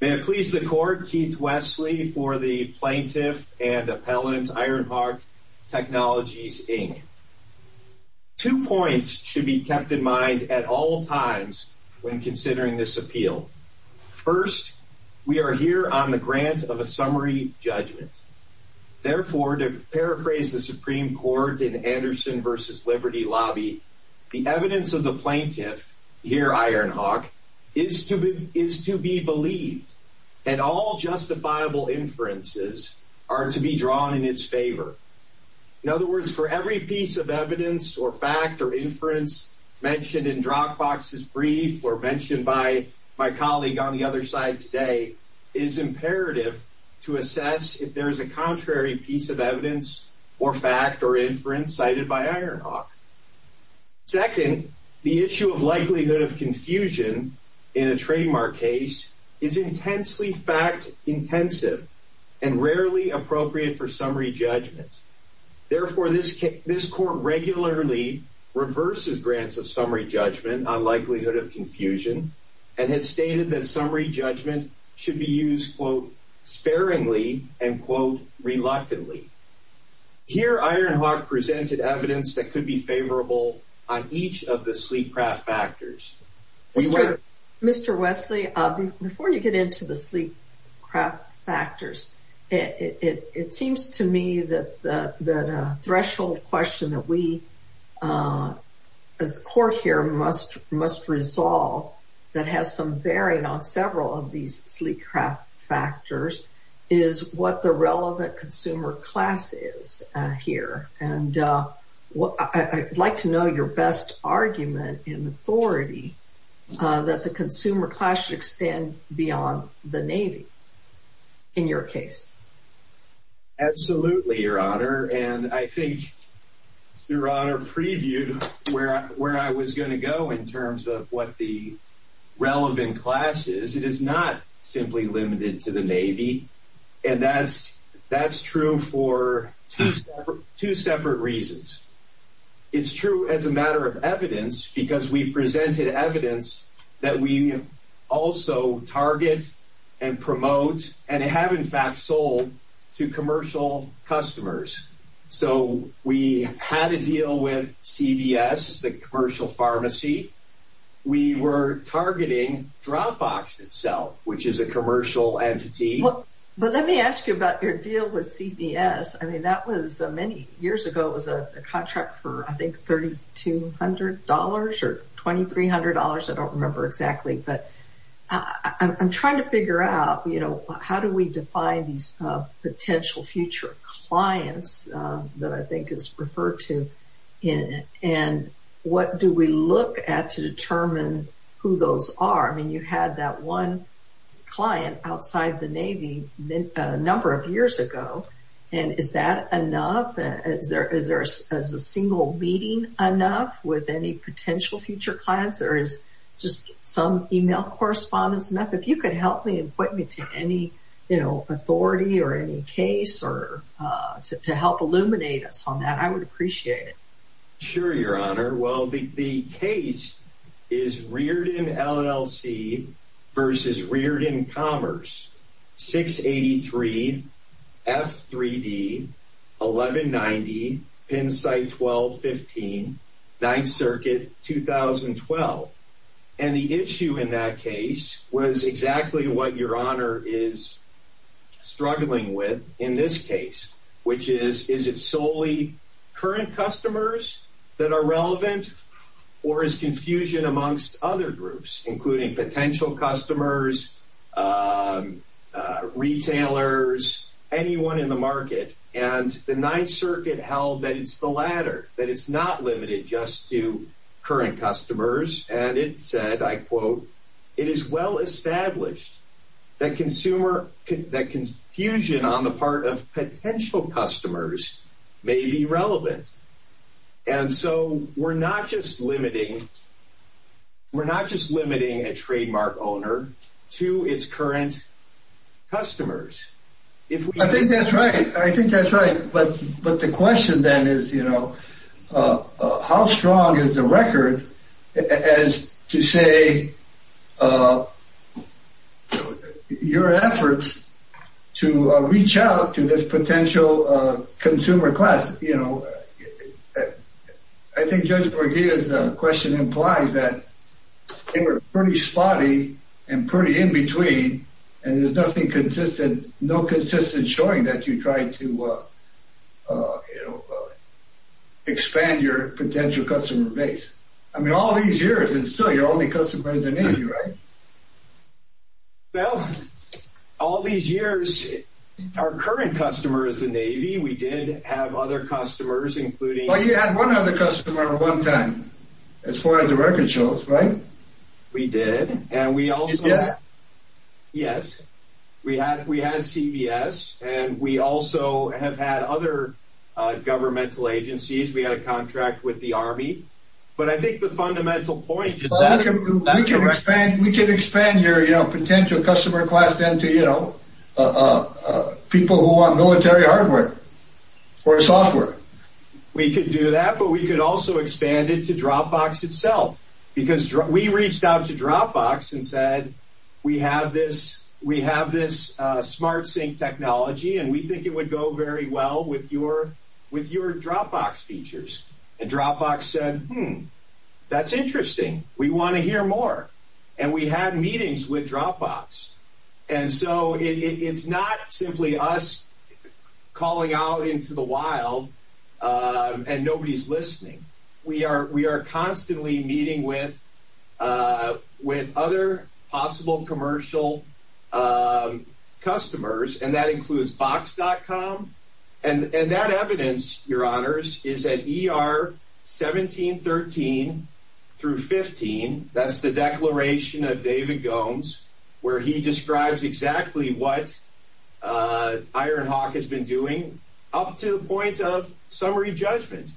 May it please the Court, Keith Wesley for the Plaintiff and Appellant Ironhawk Technologies, Inc. Two points should be kept in mind at all times when considering this appeal. First, we are here on the grant of a summary judgment. Therefore, to paraphrase the Supreme Court in and all justifiable inferences are to be drawn in its favor. In other words, for every piece of evidence or fact or inference mentioned in Dropbox's brief or mentioned by my colleague on the other side today, it is imperative to assess if there is a contrary piece of evidence or fact or inference cited by Ironhawk. Second, the issue of likelihood of confusion in a trademark case is intensely fact-intensive and rarely appropriate for summary judgment. Therefore, this Court regularly reverses grants of summary judgment on likelihood of confusion and has stated that summary judgment should be used, quote, sparingly and, quote, reluctantly. Here, Ironhawk presented evidence that could be favorable on each of the sleep craft factors. Mr. Wesley, before you get into the sleep craft factors, it seems to me that the threshold question that we as a Court here must resolve that has some bearing on several of these sleep craft factors is what the relevant consumer class is here. And I'd like to know your best argument and authority that the consumer class should extend beyond the Navy in your case. Absolutely, Your Honor. And I think Your Honor previewed where I was going to go in terms of what the relevant class is. It is not simply limited to the Navy. And that's true for two separate reasons. It's true as a matter of evidence because we presented evidence that we also target and promote and have, in fact, sold to commercial customers. So we had a deal with CVS, the commercial pharmacy. We were targeting Dropbox itself, which is a commercial entity. But let me ask you about your deal with CVS. I mean, that was many years ago. It was a contract for, I think, $3,200 or $2,300. I don't remember exactly. But I'm trying to figure out, you know, how do we define these potential future clients that I think is referred to in it? And what do we look at to determine who those are? I mean, you had that one client outside the Navy a number of years ago. And is that enough? Is a single meeting enough with any potential future clients? Or is just some email correspondence enough? If you could help me and point me to any, you know, authority or any case to help illuminate us on that, I would appreciate it. Sure, Your Honor. Well, the case is Reardon LLC versus Reardon Commerce, 683 F3D 1190 Pennsite 1215, 9th Circuit, 2012. And the issue in that case was exactly what Your Honor is relevant or is confusion amongst other groups, including potential customers, retailers, anyone in the market. And the 9th Circuit held that it's the latter, that it's not limited just to current customers. And it said, I quote, it is well established that confusion on the part of potential customers may be relevant. And so we're not just limiting a trademark owner to its current customers. I think that's right. I think that's right. But the question then is, you know, how strong is the record as to say your efforts to reach out to this potential consumer class? You know, I think Judge Borgia's question implies that they were pretty spotty and pretty in between, and there's nothing consistent, no consistent showing that you tried to, you know, expand your potential customer base. I mean, all these years, and still, you're only customer is the Navy, right? Well, all these years, our current customer is the Navy. We did have other customers, including... Well, you had one other customer at one time, as far as the record shows, right? We did. And we also... You did? Yes. We had CVS, and we also have had other governmental agencies. We had a contract with the Army. But I think the fundamental point... We could expand your potential customer class then to, you know, people who want military hardware or software. We could do that, but we could also expand it to Dropbox itself, because we reached out to Dropbox and said, we have this SmartSync technology, and we think it would go very well with your Dropbox features. And Dropbox said, hmm, that's interesting. We want to hear more. And we had meetings with Dropbox. And so, it's not simply us calling out into the wild, and nobody's listening. We are constantly meeting with other possible commercial customers, and that includes Box.com. And that evidence, your honors, is at ER 1713 through 15. That's the declaration of David Gomes, where he describes exactly what Ironhawk has been doing up to the point of summary judgment.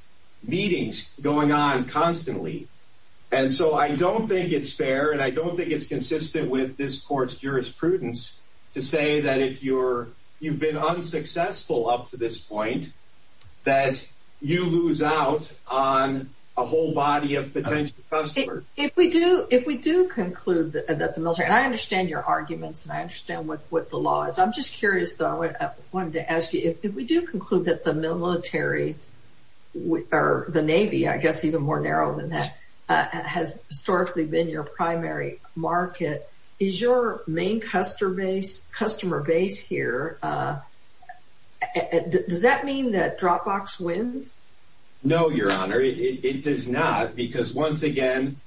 Meetings going on constantly. And so, I don't think it's fair, and I don't think it's consistent with this court's jurisprudence to say that if you've been unsuccessful up to this point, that you lose out on a whole body of potential customers. If we do conclude that the military, and I understand your arguments, and I understand what the law is. I'm just curious, though, I wanted to ask you, if we do conclude that the military, or the Navy, I guess even more narrow than that, has historically been your primary market, is your main customer base here, does that mean that Dropbox wins? No, your honor. It does not, because once again,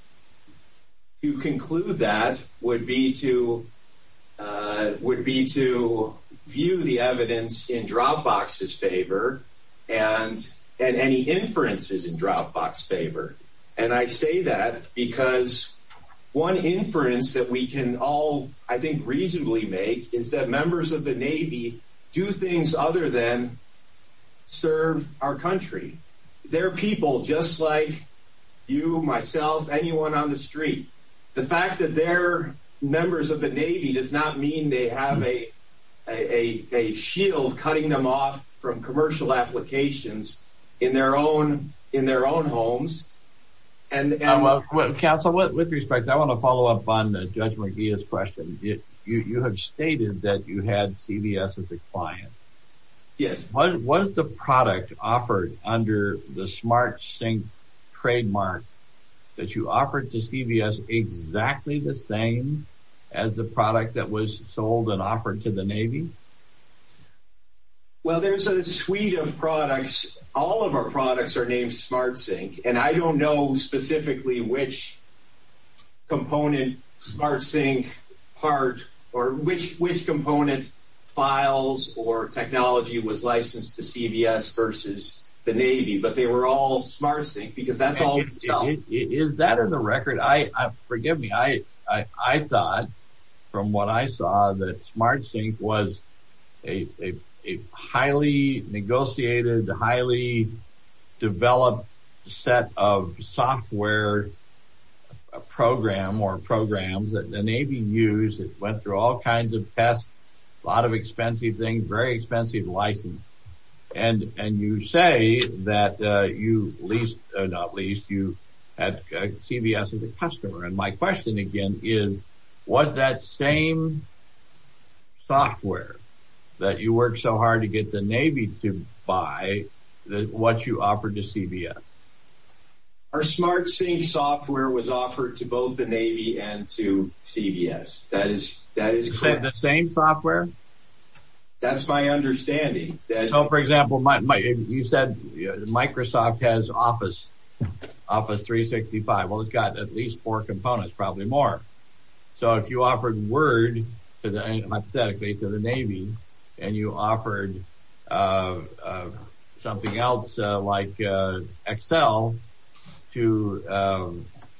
to conclude that would be to view the evidence in Dropbox's favor, and any inferences in Dropbox's favor. And I say that because one inference that we can all, I think, reasonably make is that members of the Navy do things other than serve our country. Their people, just like you, myself, anyone on the cutting them off from commercial applications in their own homes. Counsel, with respect, I want to follow up on Judge McGeehan's question. You have stated that you had CVS as a client. Yes. Was the product offered under the SmartSync trademark that you offered to CVS exactly the same as the product that was sold and offered to the Navy? Well, there's a suite of products, all of our products are named SmartSync, and I don't know specifically which component SmartSync part, or which component files or technology was licensed to CVS versus the Navy, but they were all SmartSync, because that's all. Is that in the highly negotiated, highly developed set of software program or programs that the Navy used, it went through all kinds of tests, a lot of expensive things, very expensive license. And you say that you, not least, you had CVS as a customer. And my question again is, was that same software that you worked so hard to get the Navy to buy what you offered to CVS? Our SmartSync software was offered to both the Navy and to CVS. That is clear. You said the same software? That's my understanding. For example, you said Microsoft has Office 365. Well, it's got at least four components, probably more. So if you offered Word, hypothetically, to the Navy, and you offered something else like Excel to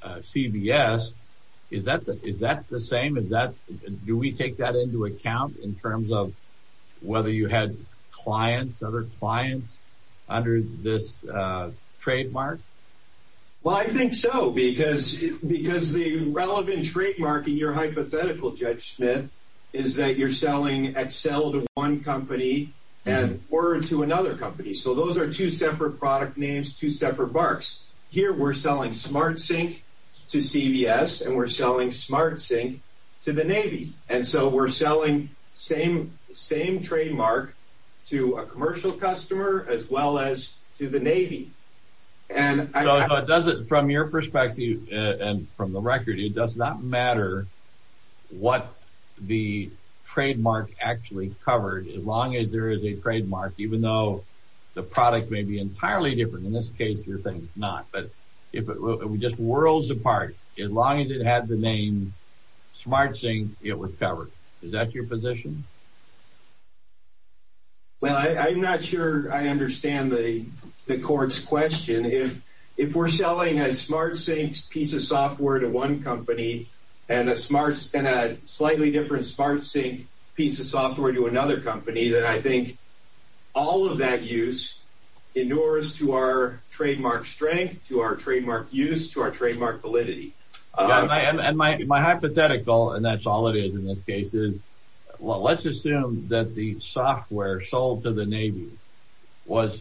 CVS, is that the same? Do we take that into account in terms of whether you had clients, other clients under this trademark? Well, I think so, because the relevant trademark in your hypothetical, Judge Smith, is that you're selling Excel to one company and Word to another company. So those are two separate product names, two separate barks. Here, we're selling SmartSync to CVS, and we're selling SmartSync to the Navy. And so we're selling same trademark to a commercial customer as well as to the Navy. So from your perspective and from the record, it does not matter what the trademark actually covered as long as there is a trademark, even though the product may be entirely different. In this case, your thing is not. But if it just whirls apart, as long as it had the name SmartSync, it was covered. Is that your position? Well, I'm not sure I understand the court's question. If we're selling a SmartSync piece of software to one company and a slightly different SmartSync piece of software to another company, then I think all of that use inures to our trademark strength, to our trademark use, to our trademark validity. And my hypothetical, and that's all it is in this case, is, well, let's assume that the software sold to the Navy was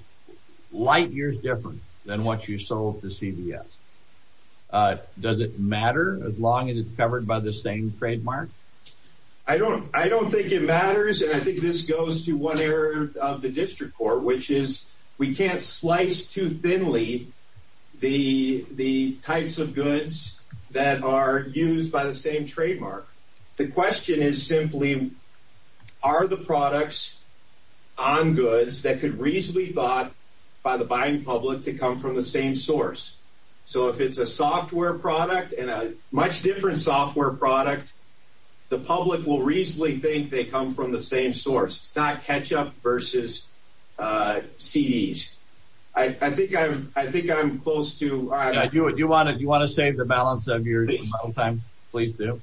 light years different than what you sold to CVS. Does it matter as long as it's covered by the same trademark? I don't think it matters, and I think this goes to one error of the district court, which is we can't slice too thinly the are the products on goods that could reasonably be bought by the buying public to come from the same source. So if it's a software product and a much different software product, the public will reasonably think they come from the same source. It's not ketchup versus CDs. I think I'm close to... Do you want to save the balance of your time? Please do.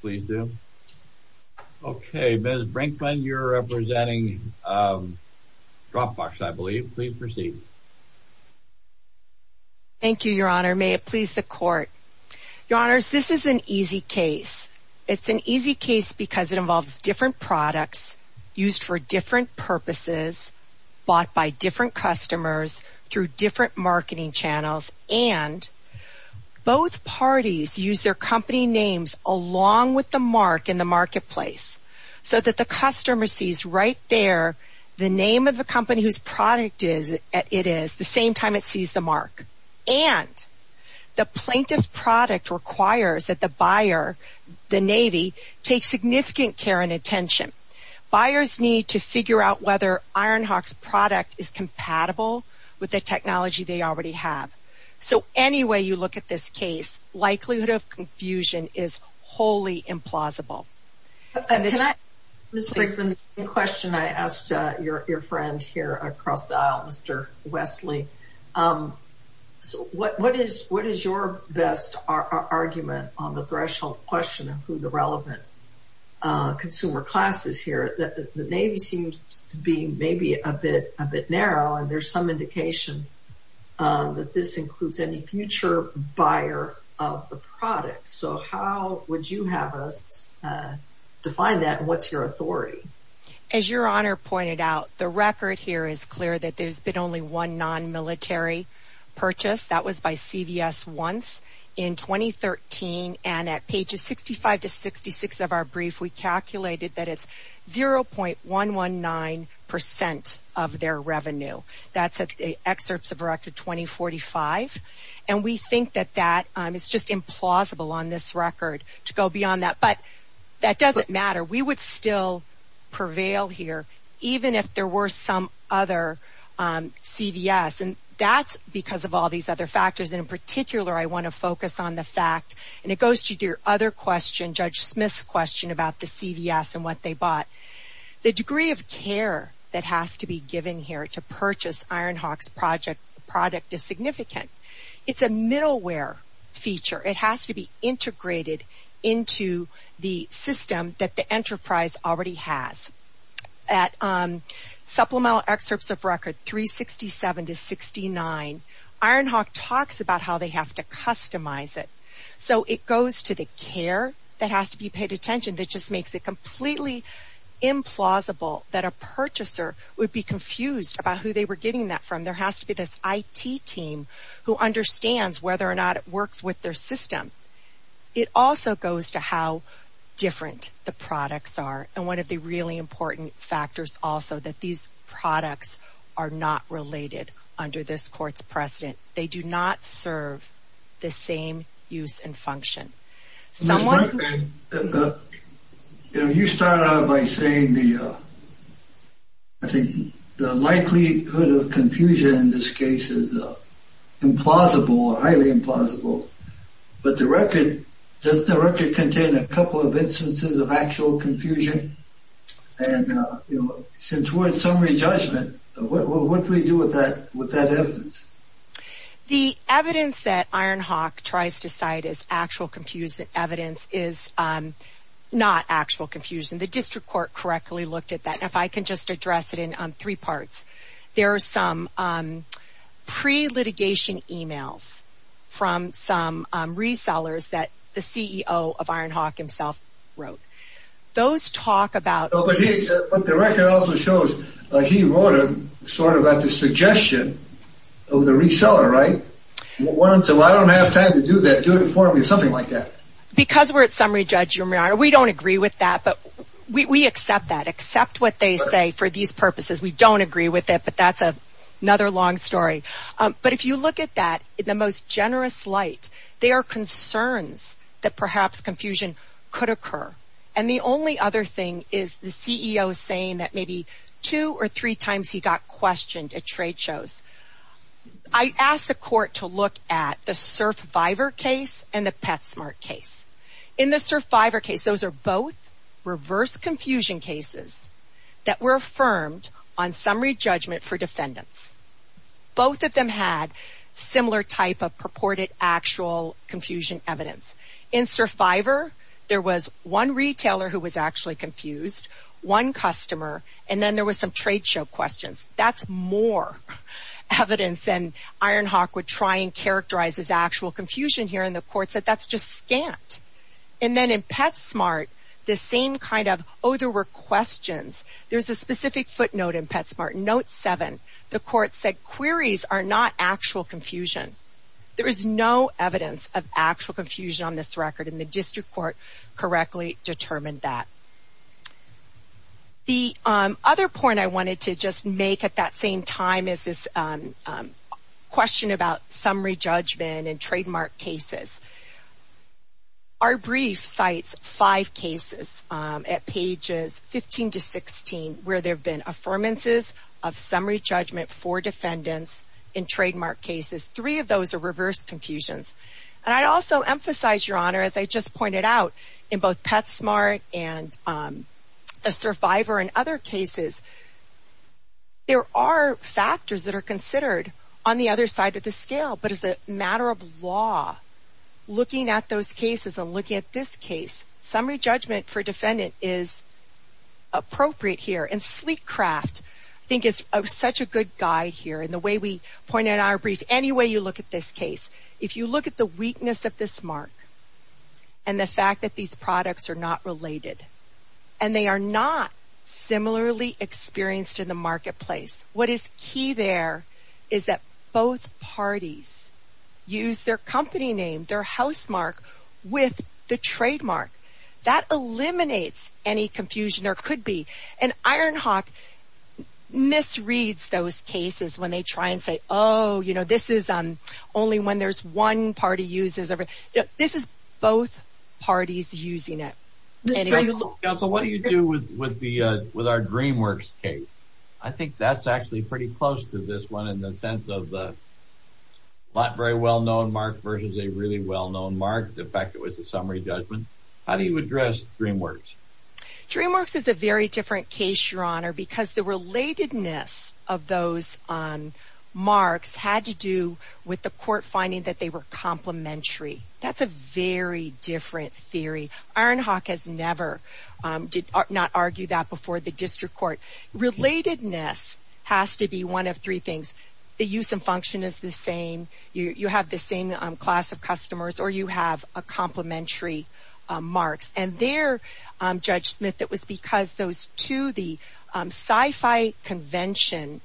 Please do. Okay, Ms. Brinkman, you're representing Dropbox, I believe. Please proceed. Thank you, Your Honor. May it please the court. Your Honors, this is an easy case. It's an easy case because it involves different products used for different purposes, bought by different customers through different marketing channels, and both parties use their company names along with the mark in the marketplace so that the customer sees right there the name of the company whose product it is at the same time it sees the mark. And the plaintiff's product requires that the buyer, the Navy, take significant care and attention. Buyers need to figure out whether Ironhawk's product is So any way you look at this case, likelihood of confusion is wholly implausible. Ms. Brinkman, a question I asked your friend here across the aisle, Mr. Wesley. So what is your best argument on the threshold question of who the relevant consumer class is here? The Navy seems to be maybe a bit narrow, and there's some indication that this includes any future buyer of the product. So how would you have us define that? What's your authority? As Your Honor pointed out, the record here is clear that there's been only one non-military purchase. That was by CVS once in 2013, and at pages 65 to 66 of our brief we calculated that it's 0.119 percent of their revenue. That's at excerpts of record 2045. And we think that that is just implausible on this record to go beyond that. But that doesn't matter. We would still prevail here even if there were some other CVS. And that's because of all these other factors. And in particular, I want to focus on the fact, and it goes to your other question, Judge Smith's question about the CVS and what they care that has to be given here to purchase Ironhawk's product is significant. It's a middleware feature. It has to be integrated into the system that the enterprise already has. At supplemental excerpts of record 367 to 69, Ironhawk talks about how they have to customize it. So it goes to the care that has to be paid attention that just makes it completely implausible that a purchaser would be confused about who they were getting that from. There has to be this IT team who understands whether or not it works with their system. It also goes to how different the products are. And one of the really important factors also that these products are not related under this court's precedent. They do not serve the same use and function. You started out by saying the likelihood of confusion in this case is implausible or highly implausible. But the record, does the record contain a couple of instances of actual confusion? And since we're in summary judgment, what do we do with that evidence? The evidence that Ironhawk tries to cite as actual confusion evidence is not actual confusion. The district court correctly looked at that. If I can just address it in three parts. There are some pre-litigation emails from some resellers that the CEO of Ironhawk himself wrote. Those reseller, right? I don't have time to do that. Do it for me or something like that. Because we're at summary judgment, we don't agree with that. But we accept that. Accept what they say for these purposes. We don't agree with it. But that's another long story. But if you look at that in the most generous light, there are concerns that perhaps confusion could occur. And the only other thing is the CEO saying that maybe two or three times he got questioned at trade shows. I asked the court to look at the Surfvivor case and the Petsmart case. In the Surfvivor case, those are both reverse confusion cases that were affirmed on summary judgment for defendants. Both of them had similar type of purported actual confusion evidence. In Surfvivor, there was one retailer who was actually confused, one customer, and then there That's more evidence than Ironhawk would try and characterize as actual confusion here. And the court said that's just scant. And then in Petsmart, the same kind of, oh, there were questions. There's a specific footnote in Petsmart. Note 7. The court said queries are not actual confusion. There is no evidence of actual confusion on this record. And the district court correctly determined that. The other point I wanted to just make at that same time is this question about summary judgment in trademark cases. Our brief cites five cases at pages 15 to 16 where there have been affirmances of summary judgment for defendants in trademark cases. Three of those are reverse confusions. And I also emphasize, Your Honor, as I just pointed out, in both Petsmart and the Surfvivor and other cases, there are factors that are considered on the other side of the scale. But as a matter of law, looking at those cases and looking at this case, summary judgment for defendant is appropriate here. And Sleekcraft, I think, is such a good guide here. And the way we point out in our brief, any way you look at this case, if you look at the weakness of this mark and the fact that these products are not related and they are not similarly experienced in the marketplace, what is key there is that both parties use their company name, their housemark, with the trademark. That eliminates any confusion there could be. And Ironhawk misreads those cases when they try and say, oh, you know, this is only when there's one party uses it. This is both parties using it. So what do you do with our DreamWorks case? I think that's actually pretty close to this one in the sense of the not very well-known mark versus a really well-known mark. In fact, it was a summary judgment. How do you address DreamWorks? DreamWorks is a very different case, Your Honor, because the relatedness of those marks had to do with the court finding that they were complementary. That's a very different theory. Ironhawk has never not argued that before the district court. Relatedness has to be one of three things. The use and function is the same. You have the same class of customers or you have a complementary mark. And there, Judge Smith, it was because those two, the sci-fi convention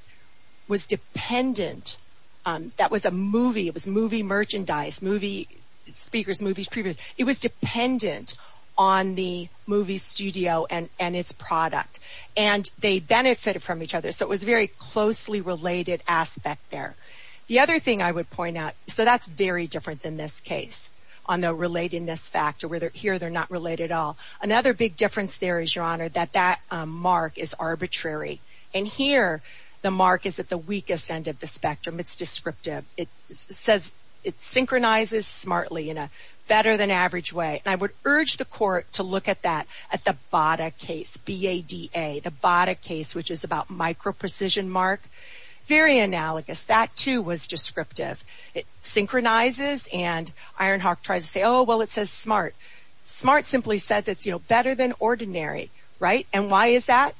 was dependent. That was a movie. It was movie merchandise, movie speakers, movie previews. It was dependent on the movie studio and its product. And they benefited from each other. So it was a very closely related aspect there. The other thing I would point out, so that's very different than this case on the relatedness factor where here they're not related at all. Another big difference there is, Your Honor, that that mark is arbitrary. And here, the mark is at the weakest end of the spectrum. It's descriptive. It synchronizes smartly in a better-than-average way. I would urge the court to look at that, at the BADA case, B-A-D-A, the BADA case, which is about micro-precision mark. Very analogous. That, too, was descriptive. It synchronizes and Ironhawk tries to say, oh, well, it says smart. Smart simply says it's better than ordinary. And why is that?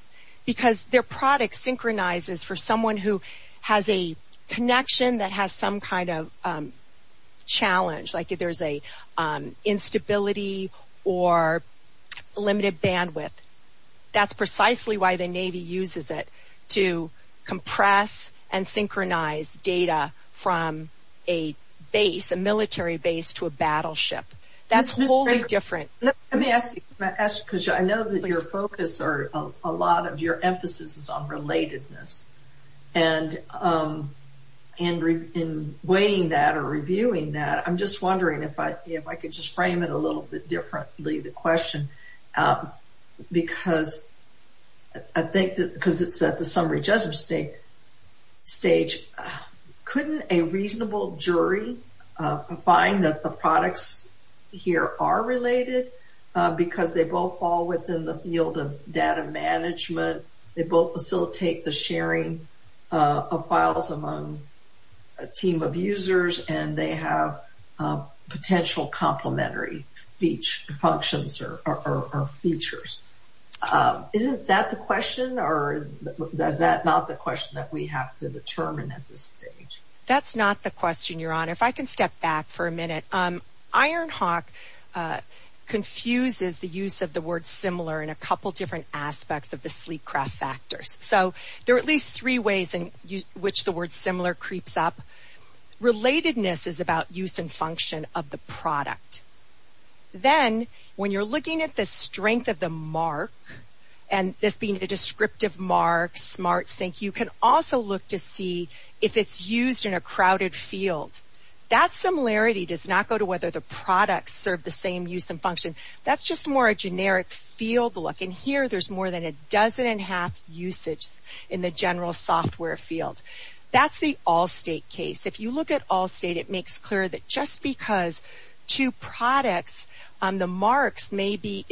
Because their product synchronizes for someone who has a connection that has some kind of challenge, like there's an instability or limited bandwidth. That's precisely why the Navy uses it to compress and synchronize data from a base, a military base, to a battleship. That's wholly different. Let me ask you, because I know that your focus or a lot of your emphasis is on relatedness. And in weighing that or reviewing that, I'm just wondering if I could just frame it a little bit differently, the question. Because I think that because it's at the summary judgment stage, couldn't a reasonable jury find that the products here are related? Because they both fall within the field of data management. They both facilitate the sharing of files among a team of users, and they have potential complementary functions or features. Isn't that the question? Or is that not the question that we have to determine at this stage? That's not the question, Your Honor. If I can step back for a minute. Ironhawk confuses the use of the word similar in a couple different aspects of the sleep craft factors. So, there are at least three ways in which the word similar creeps up. Relatedness is about use and function of the product. Then, when you're looking at the strength of the mark, and this being a descriptive mark, smart sync, you can also look to see if it's used in a crowded field. That similarity does not go to whether the products serve the same use and function. That's just more generic field look. Here, there's more than a dozen and a half usage in the general software field. That's the Allstate case. If you look at Allstate, it makes clear that just because two products, the marks may be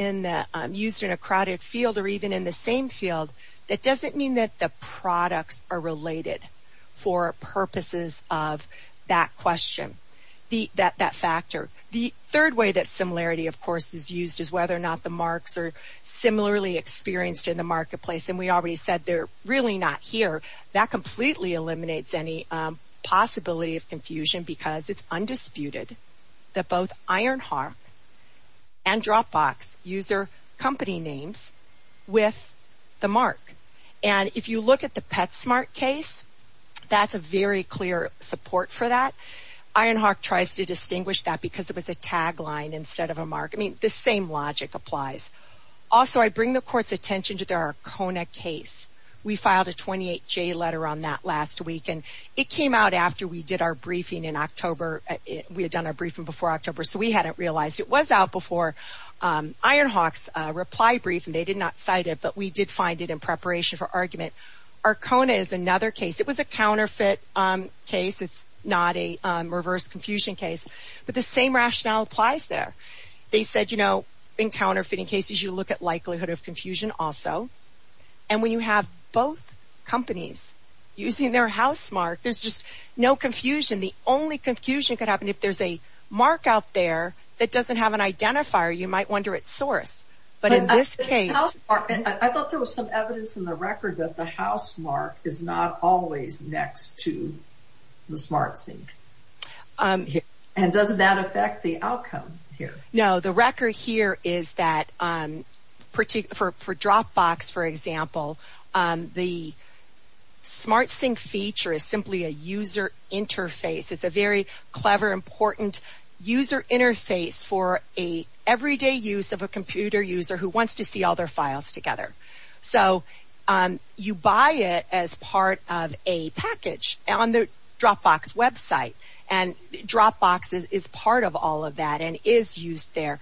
used in a crowded field or even in the same field, that doesn't mean that the products are related for purposes of that factor. The third way that similarity, of course, is used is whether or not the marks are similarly experienced in the marketplace. We already said they're really not here. That completely eliminates any possibility of confusion because it's undisputed that both Ironhawk and Dropbox use their company names with the mark. If you look at the PetSmart case, that's a very clear support for that. Ironhawk tries to distinguish that because it was a tagline instead of a mark. The same logic applies. Also, I bring the court's attention to their Arcona case. We filed a 28-J letter on that last week. It came out after we did our briefing in October. We had done our briefing before October, so we hadn't realized it was out before Ironhawk's reply briefing. They did not cite it, but we did find it in preparation for argument. Arcona is another case. It was a counterfeit case. It's not a reverse confusion case, but the same rationale applies there. They said in counterfeiting cases, you look at likelihood of confusion also. When you have both companies using their housemark, there's just no confusion. The only confusion could happen if there's a mark out there that doesn't have an identifier. You might wonder at source, but in this case... housemark is not always next to the SmartSync. Does that affect the outcome here? No. The record here is that for Dropbox, for example, the SmartSync feature is simply a user interface. It's a very clever, important user interface for an everyday use of a computer user who wants to see all their files together. You buy it as part of a package on the Dropbox website. Dropbox is part of all of that and is used there.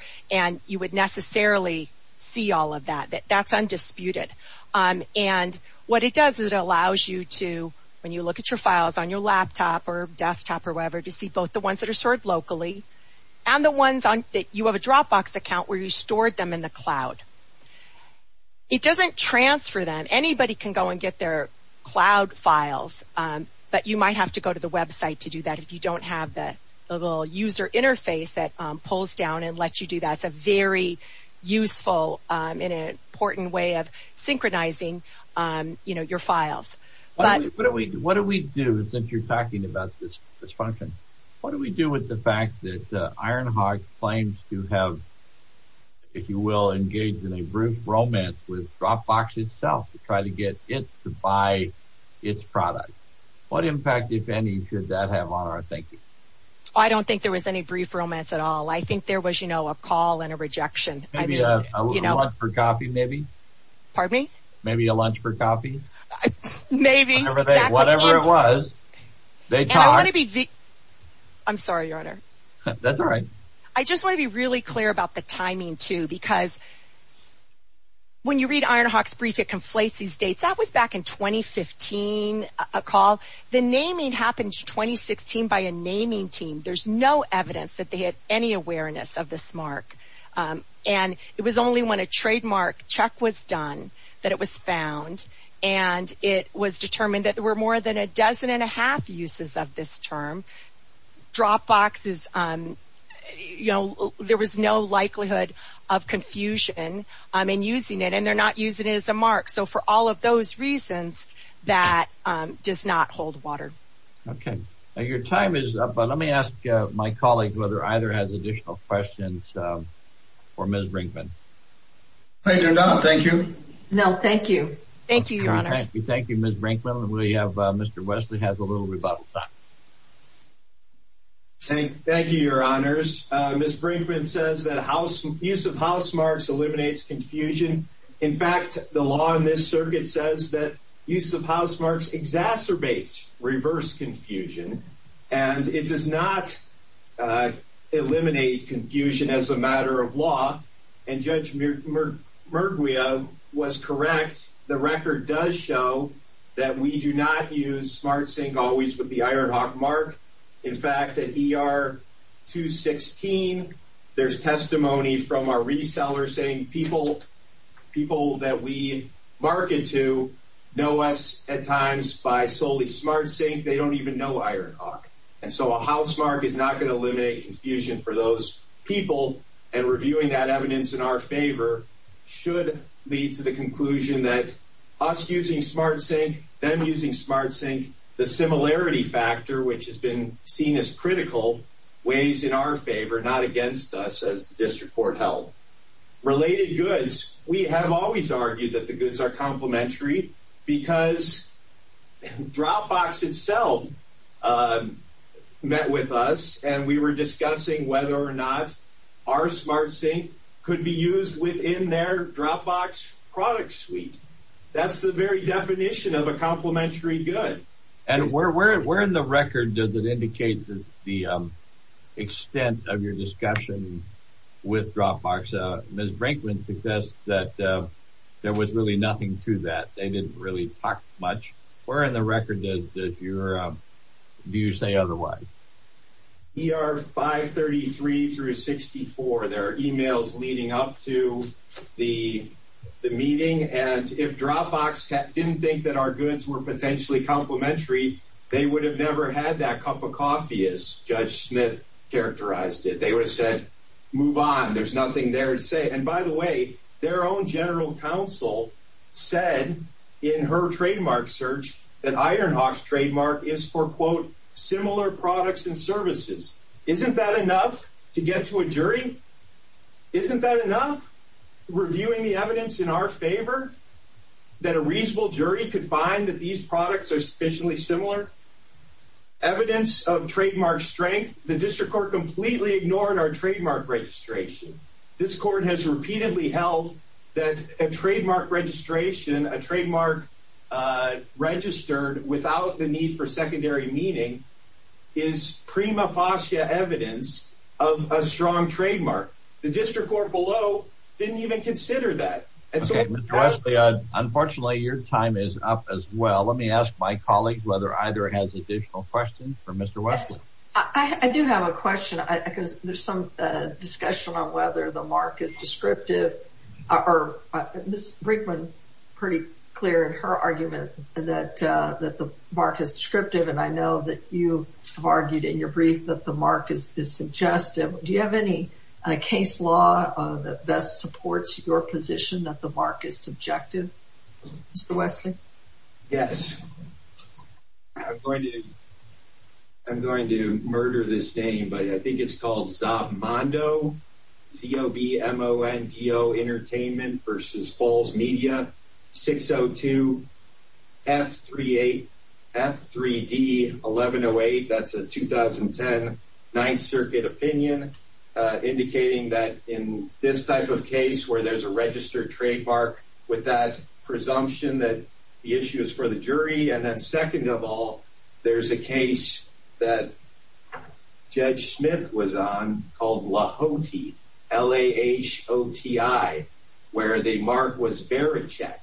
You would necessarily see all of that. That's undisputed. What it does is it allows you to, when you look at your files on your laptop or desktop or whatever, to see both the ones that are stored locally and the ones that you have a Dropbox account where you stored them in the cloud. It doesn't transfer them. Anybody can go and get their cloud files, but you might have to go to the website to do that if you don't have the little user interface that pulls down and lets you do that. It's a very useful and important way of synchronizing your files. What do we do, since you're talking about this function, what do we do with the fact that Ironhawk claims to have, if you will, engaged in a brief romance with Dropbox itself to try to get it to buy its product? What impact, if any, should that have on our thinking? I don't think there was any brief romance at all. I think there was, you know, a call and a rejection. Maybe a lunch for coffee, maybe? Pardon me? Maybe a lunch for coffee? Maybe. Whatever it was, they talked. I'm sorry, your honor. That's all right. I just want to be really clear about the timing, too, because when you read Ironhawk's brief, it conflates these dates. That was back in 2015, a call. The naming happened in 2016 by a naming team. There's no evidence that they had any awareness of this mark. It was only when a trademark check was done that it was found, and it was determined that there were more than a dozen and a half uses of this term. Dropbox is, you know, there was no likelihood of confusion in using it, and they're not using it as a mark. So for all of those reasons, that does not hold water. Okay. Your time is up, but let me ask my colleague whether either has additional questions for Ms. Brinkman. I do not. Thank you. No, thank you. Thank you, your honor. Thank you, Ms. Brinkman. We have Mr. Wesley has a little rebuttal time. Thank you, your honors. Ms. Brinkman says that use of house marks eliminates confusion. In fact, the law in this circuit says that use of house marks exacerbates reverse confusion, and it does not eliminate confusion as a matter of law. And Judge Merguia was correct. The record does show that we do not use SmartSync always with the Ironhawk mark. In fact, at ER 216, there's testimony from our reseller saying people that we market to know us at times by solely Ironhawk. And so a house mark is not going to eliminate confusion for those people. And reviewing that evidence in our favor should lead to the conclusion that us using SmartSync, them using SmartSync, the similarity factor, which has been seen as critical, weighs in our favor, not against us as the district court held. Related goods. We have argued that the goods are complimentary because Dropbox itself met with us and we were discussing whether or not our SmartSync could be used within their Dropbox product suite. That's the very definition of a complimentary good. And where in the record does it indicate the extent of discussion with Dropbox? Ms. Brinkman suggests that there was really nothing to that. They didn't really talk much. Where in the record do you say otherwise? ER 533 through 64, there are emails leading up to the meeting, and if Dropbox didn't think that our goods were potentially complimentary, they would have never had that cup of coffee as Judge Smith characterized it. They would have said, move on. There's nothing there to say. And by the way, their own general counsel said in her trademark search that Ironhawk's trademark is for, quote, similar products and services. Isn't that enough to get to a jury? Isn't that enough? Reviewing the evidence in our favor that a reasonable jury could find that these products are sufficiently similar? Evidence of trademark strength, the district court completely ignored our trademark registration. This court has repeatedly held that a trademark registration, a trademark registered without the need for secondary meaning is prima facie evidence of a strong trademark. The district court below didn't even consider that. Mr. Wesley, unfortunately, your time is up as well. Let me ask my colleagues whether either has additional questions for Mr. Wesley. I do have a question because there's some discussion on whether the mark is descriptive. Ms. Brinkman, pretty clear in her argument that the mark is descriptive, and I know that you have argued in your brief that the mark is suggestive. Do you have any case law that best supports your position that the mark is subjective? Mr. Wesley? Yes. I'm going to murder this name, but I think it's called Zob Mondo, Zob Mondo Entertainment versus Falls Media 602 F38 F3D 1108. That's a 2010 Ninth Circuit opinion indicating that in this type of case where there's a registered trademark with that presumption that the issue is for the jury. And then second of all, there's a case that Lahoti, L-A-H-O-T-I, where the mark was Verachek,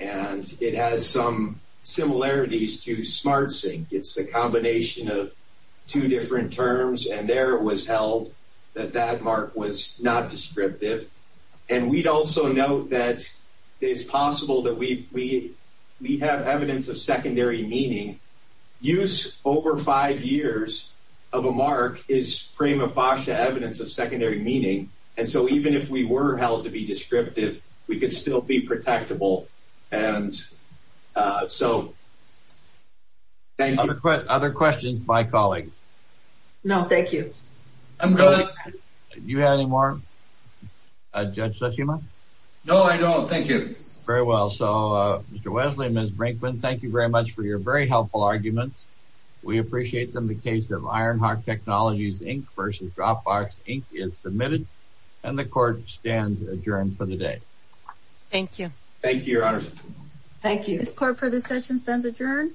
and it has some similarities to SmartSync. It's a combination of two different terms, and there it was held that that mark was not descriptive. And we'd also note that it's possible that we have evidence of secondary meaning. Use over five years of a mark is prima facie evidence of secondary meaning. And so even if we were held to be descriptive, we could still be protectable. And so thank you. Other questions by colleagues? No, thank you. I'm good. Do you have any more, Judge Tsushima? No, I don't. Thank you. Very well. So Mr. Wesley, Ms. Brinkman, thank you very much for your very helpful arguments. We appreciate them. The case of Ironheart Technologies, Inc. versus Dropbox, Inc. is submitted, and the court stands adjourned for the day. Thank you. Thank you, Your Honor. Thank you. This court for this session stands adjourned.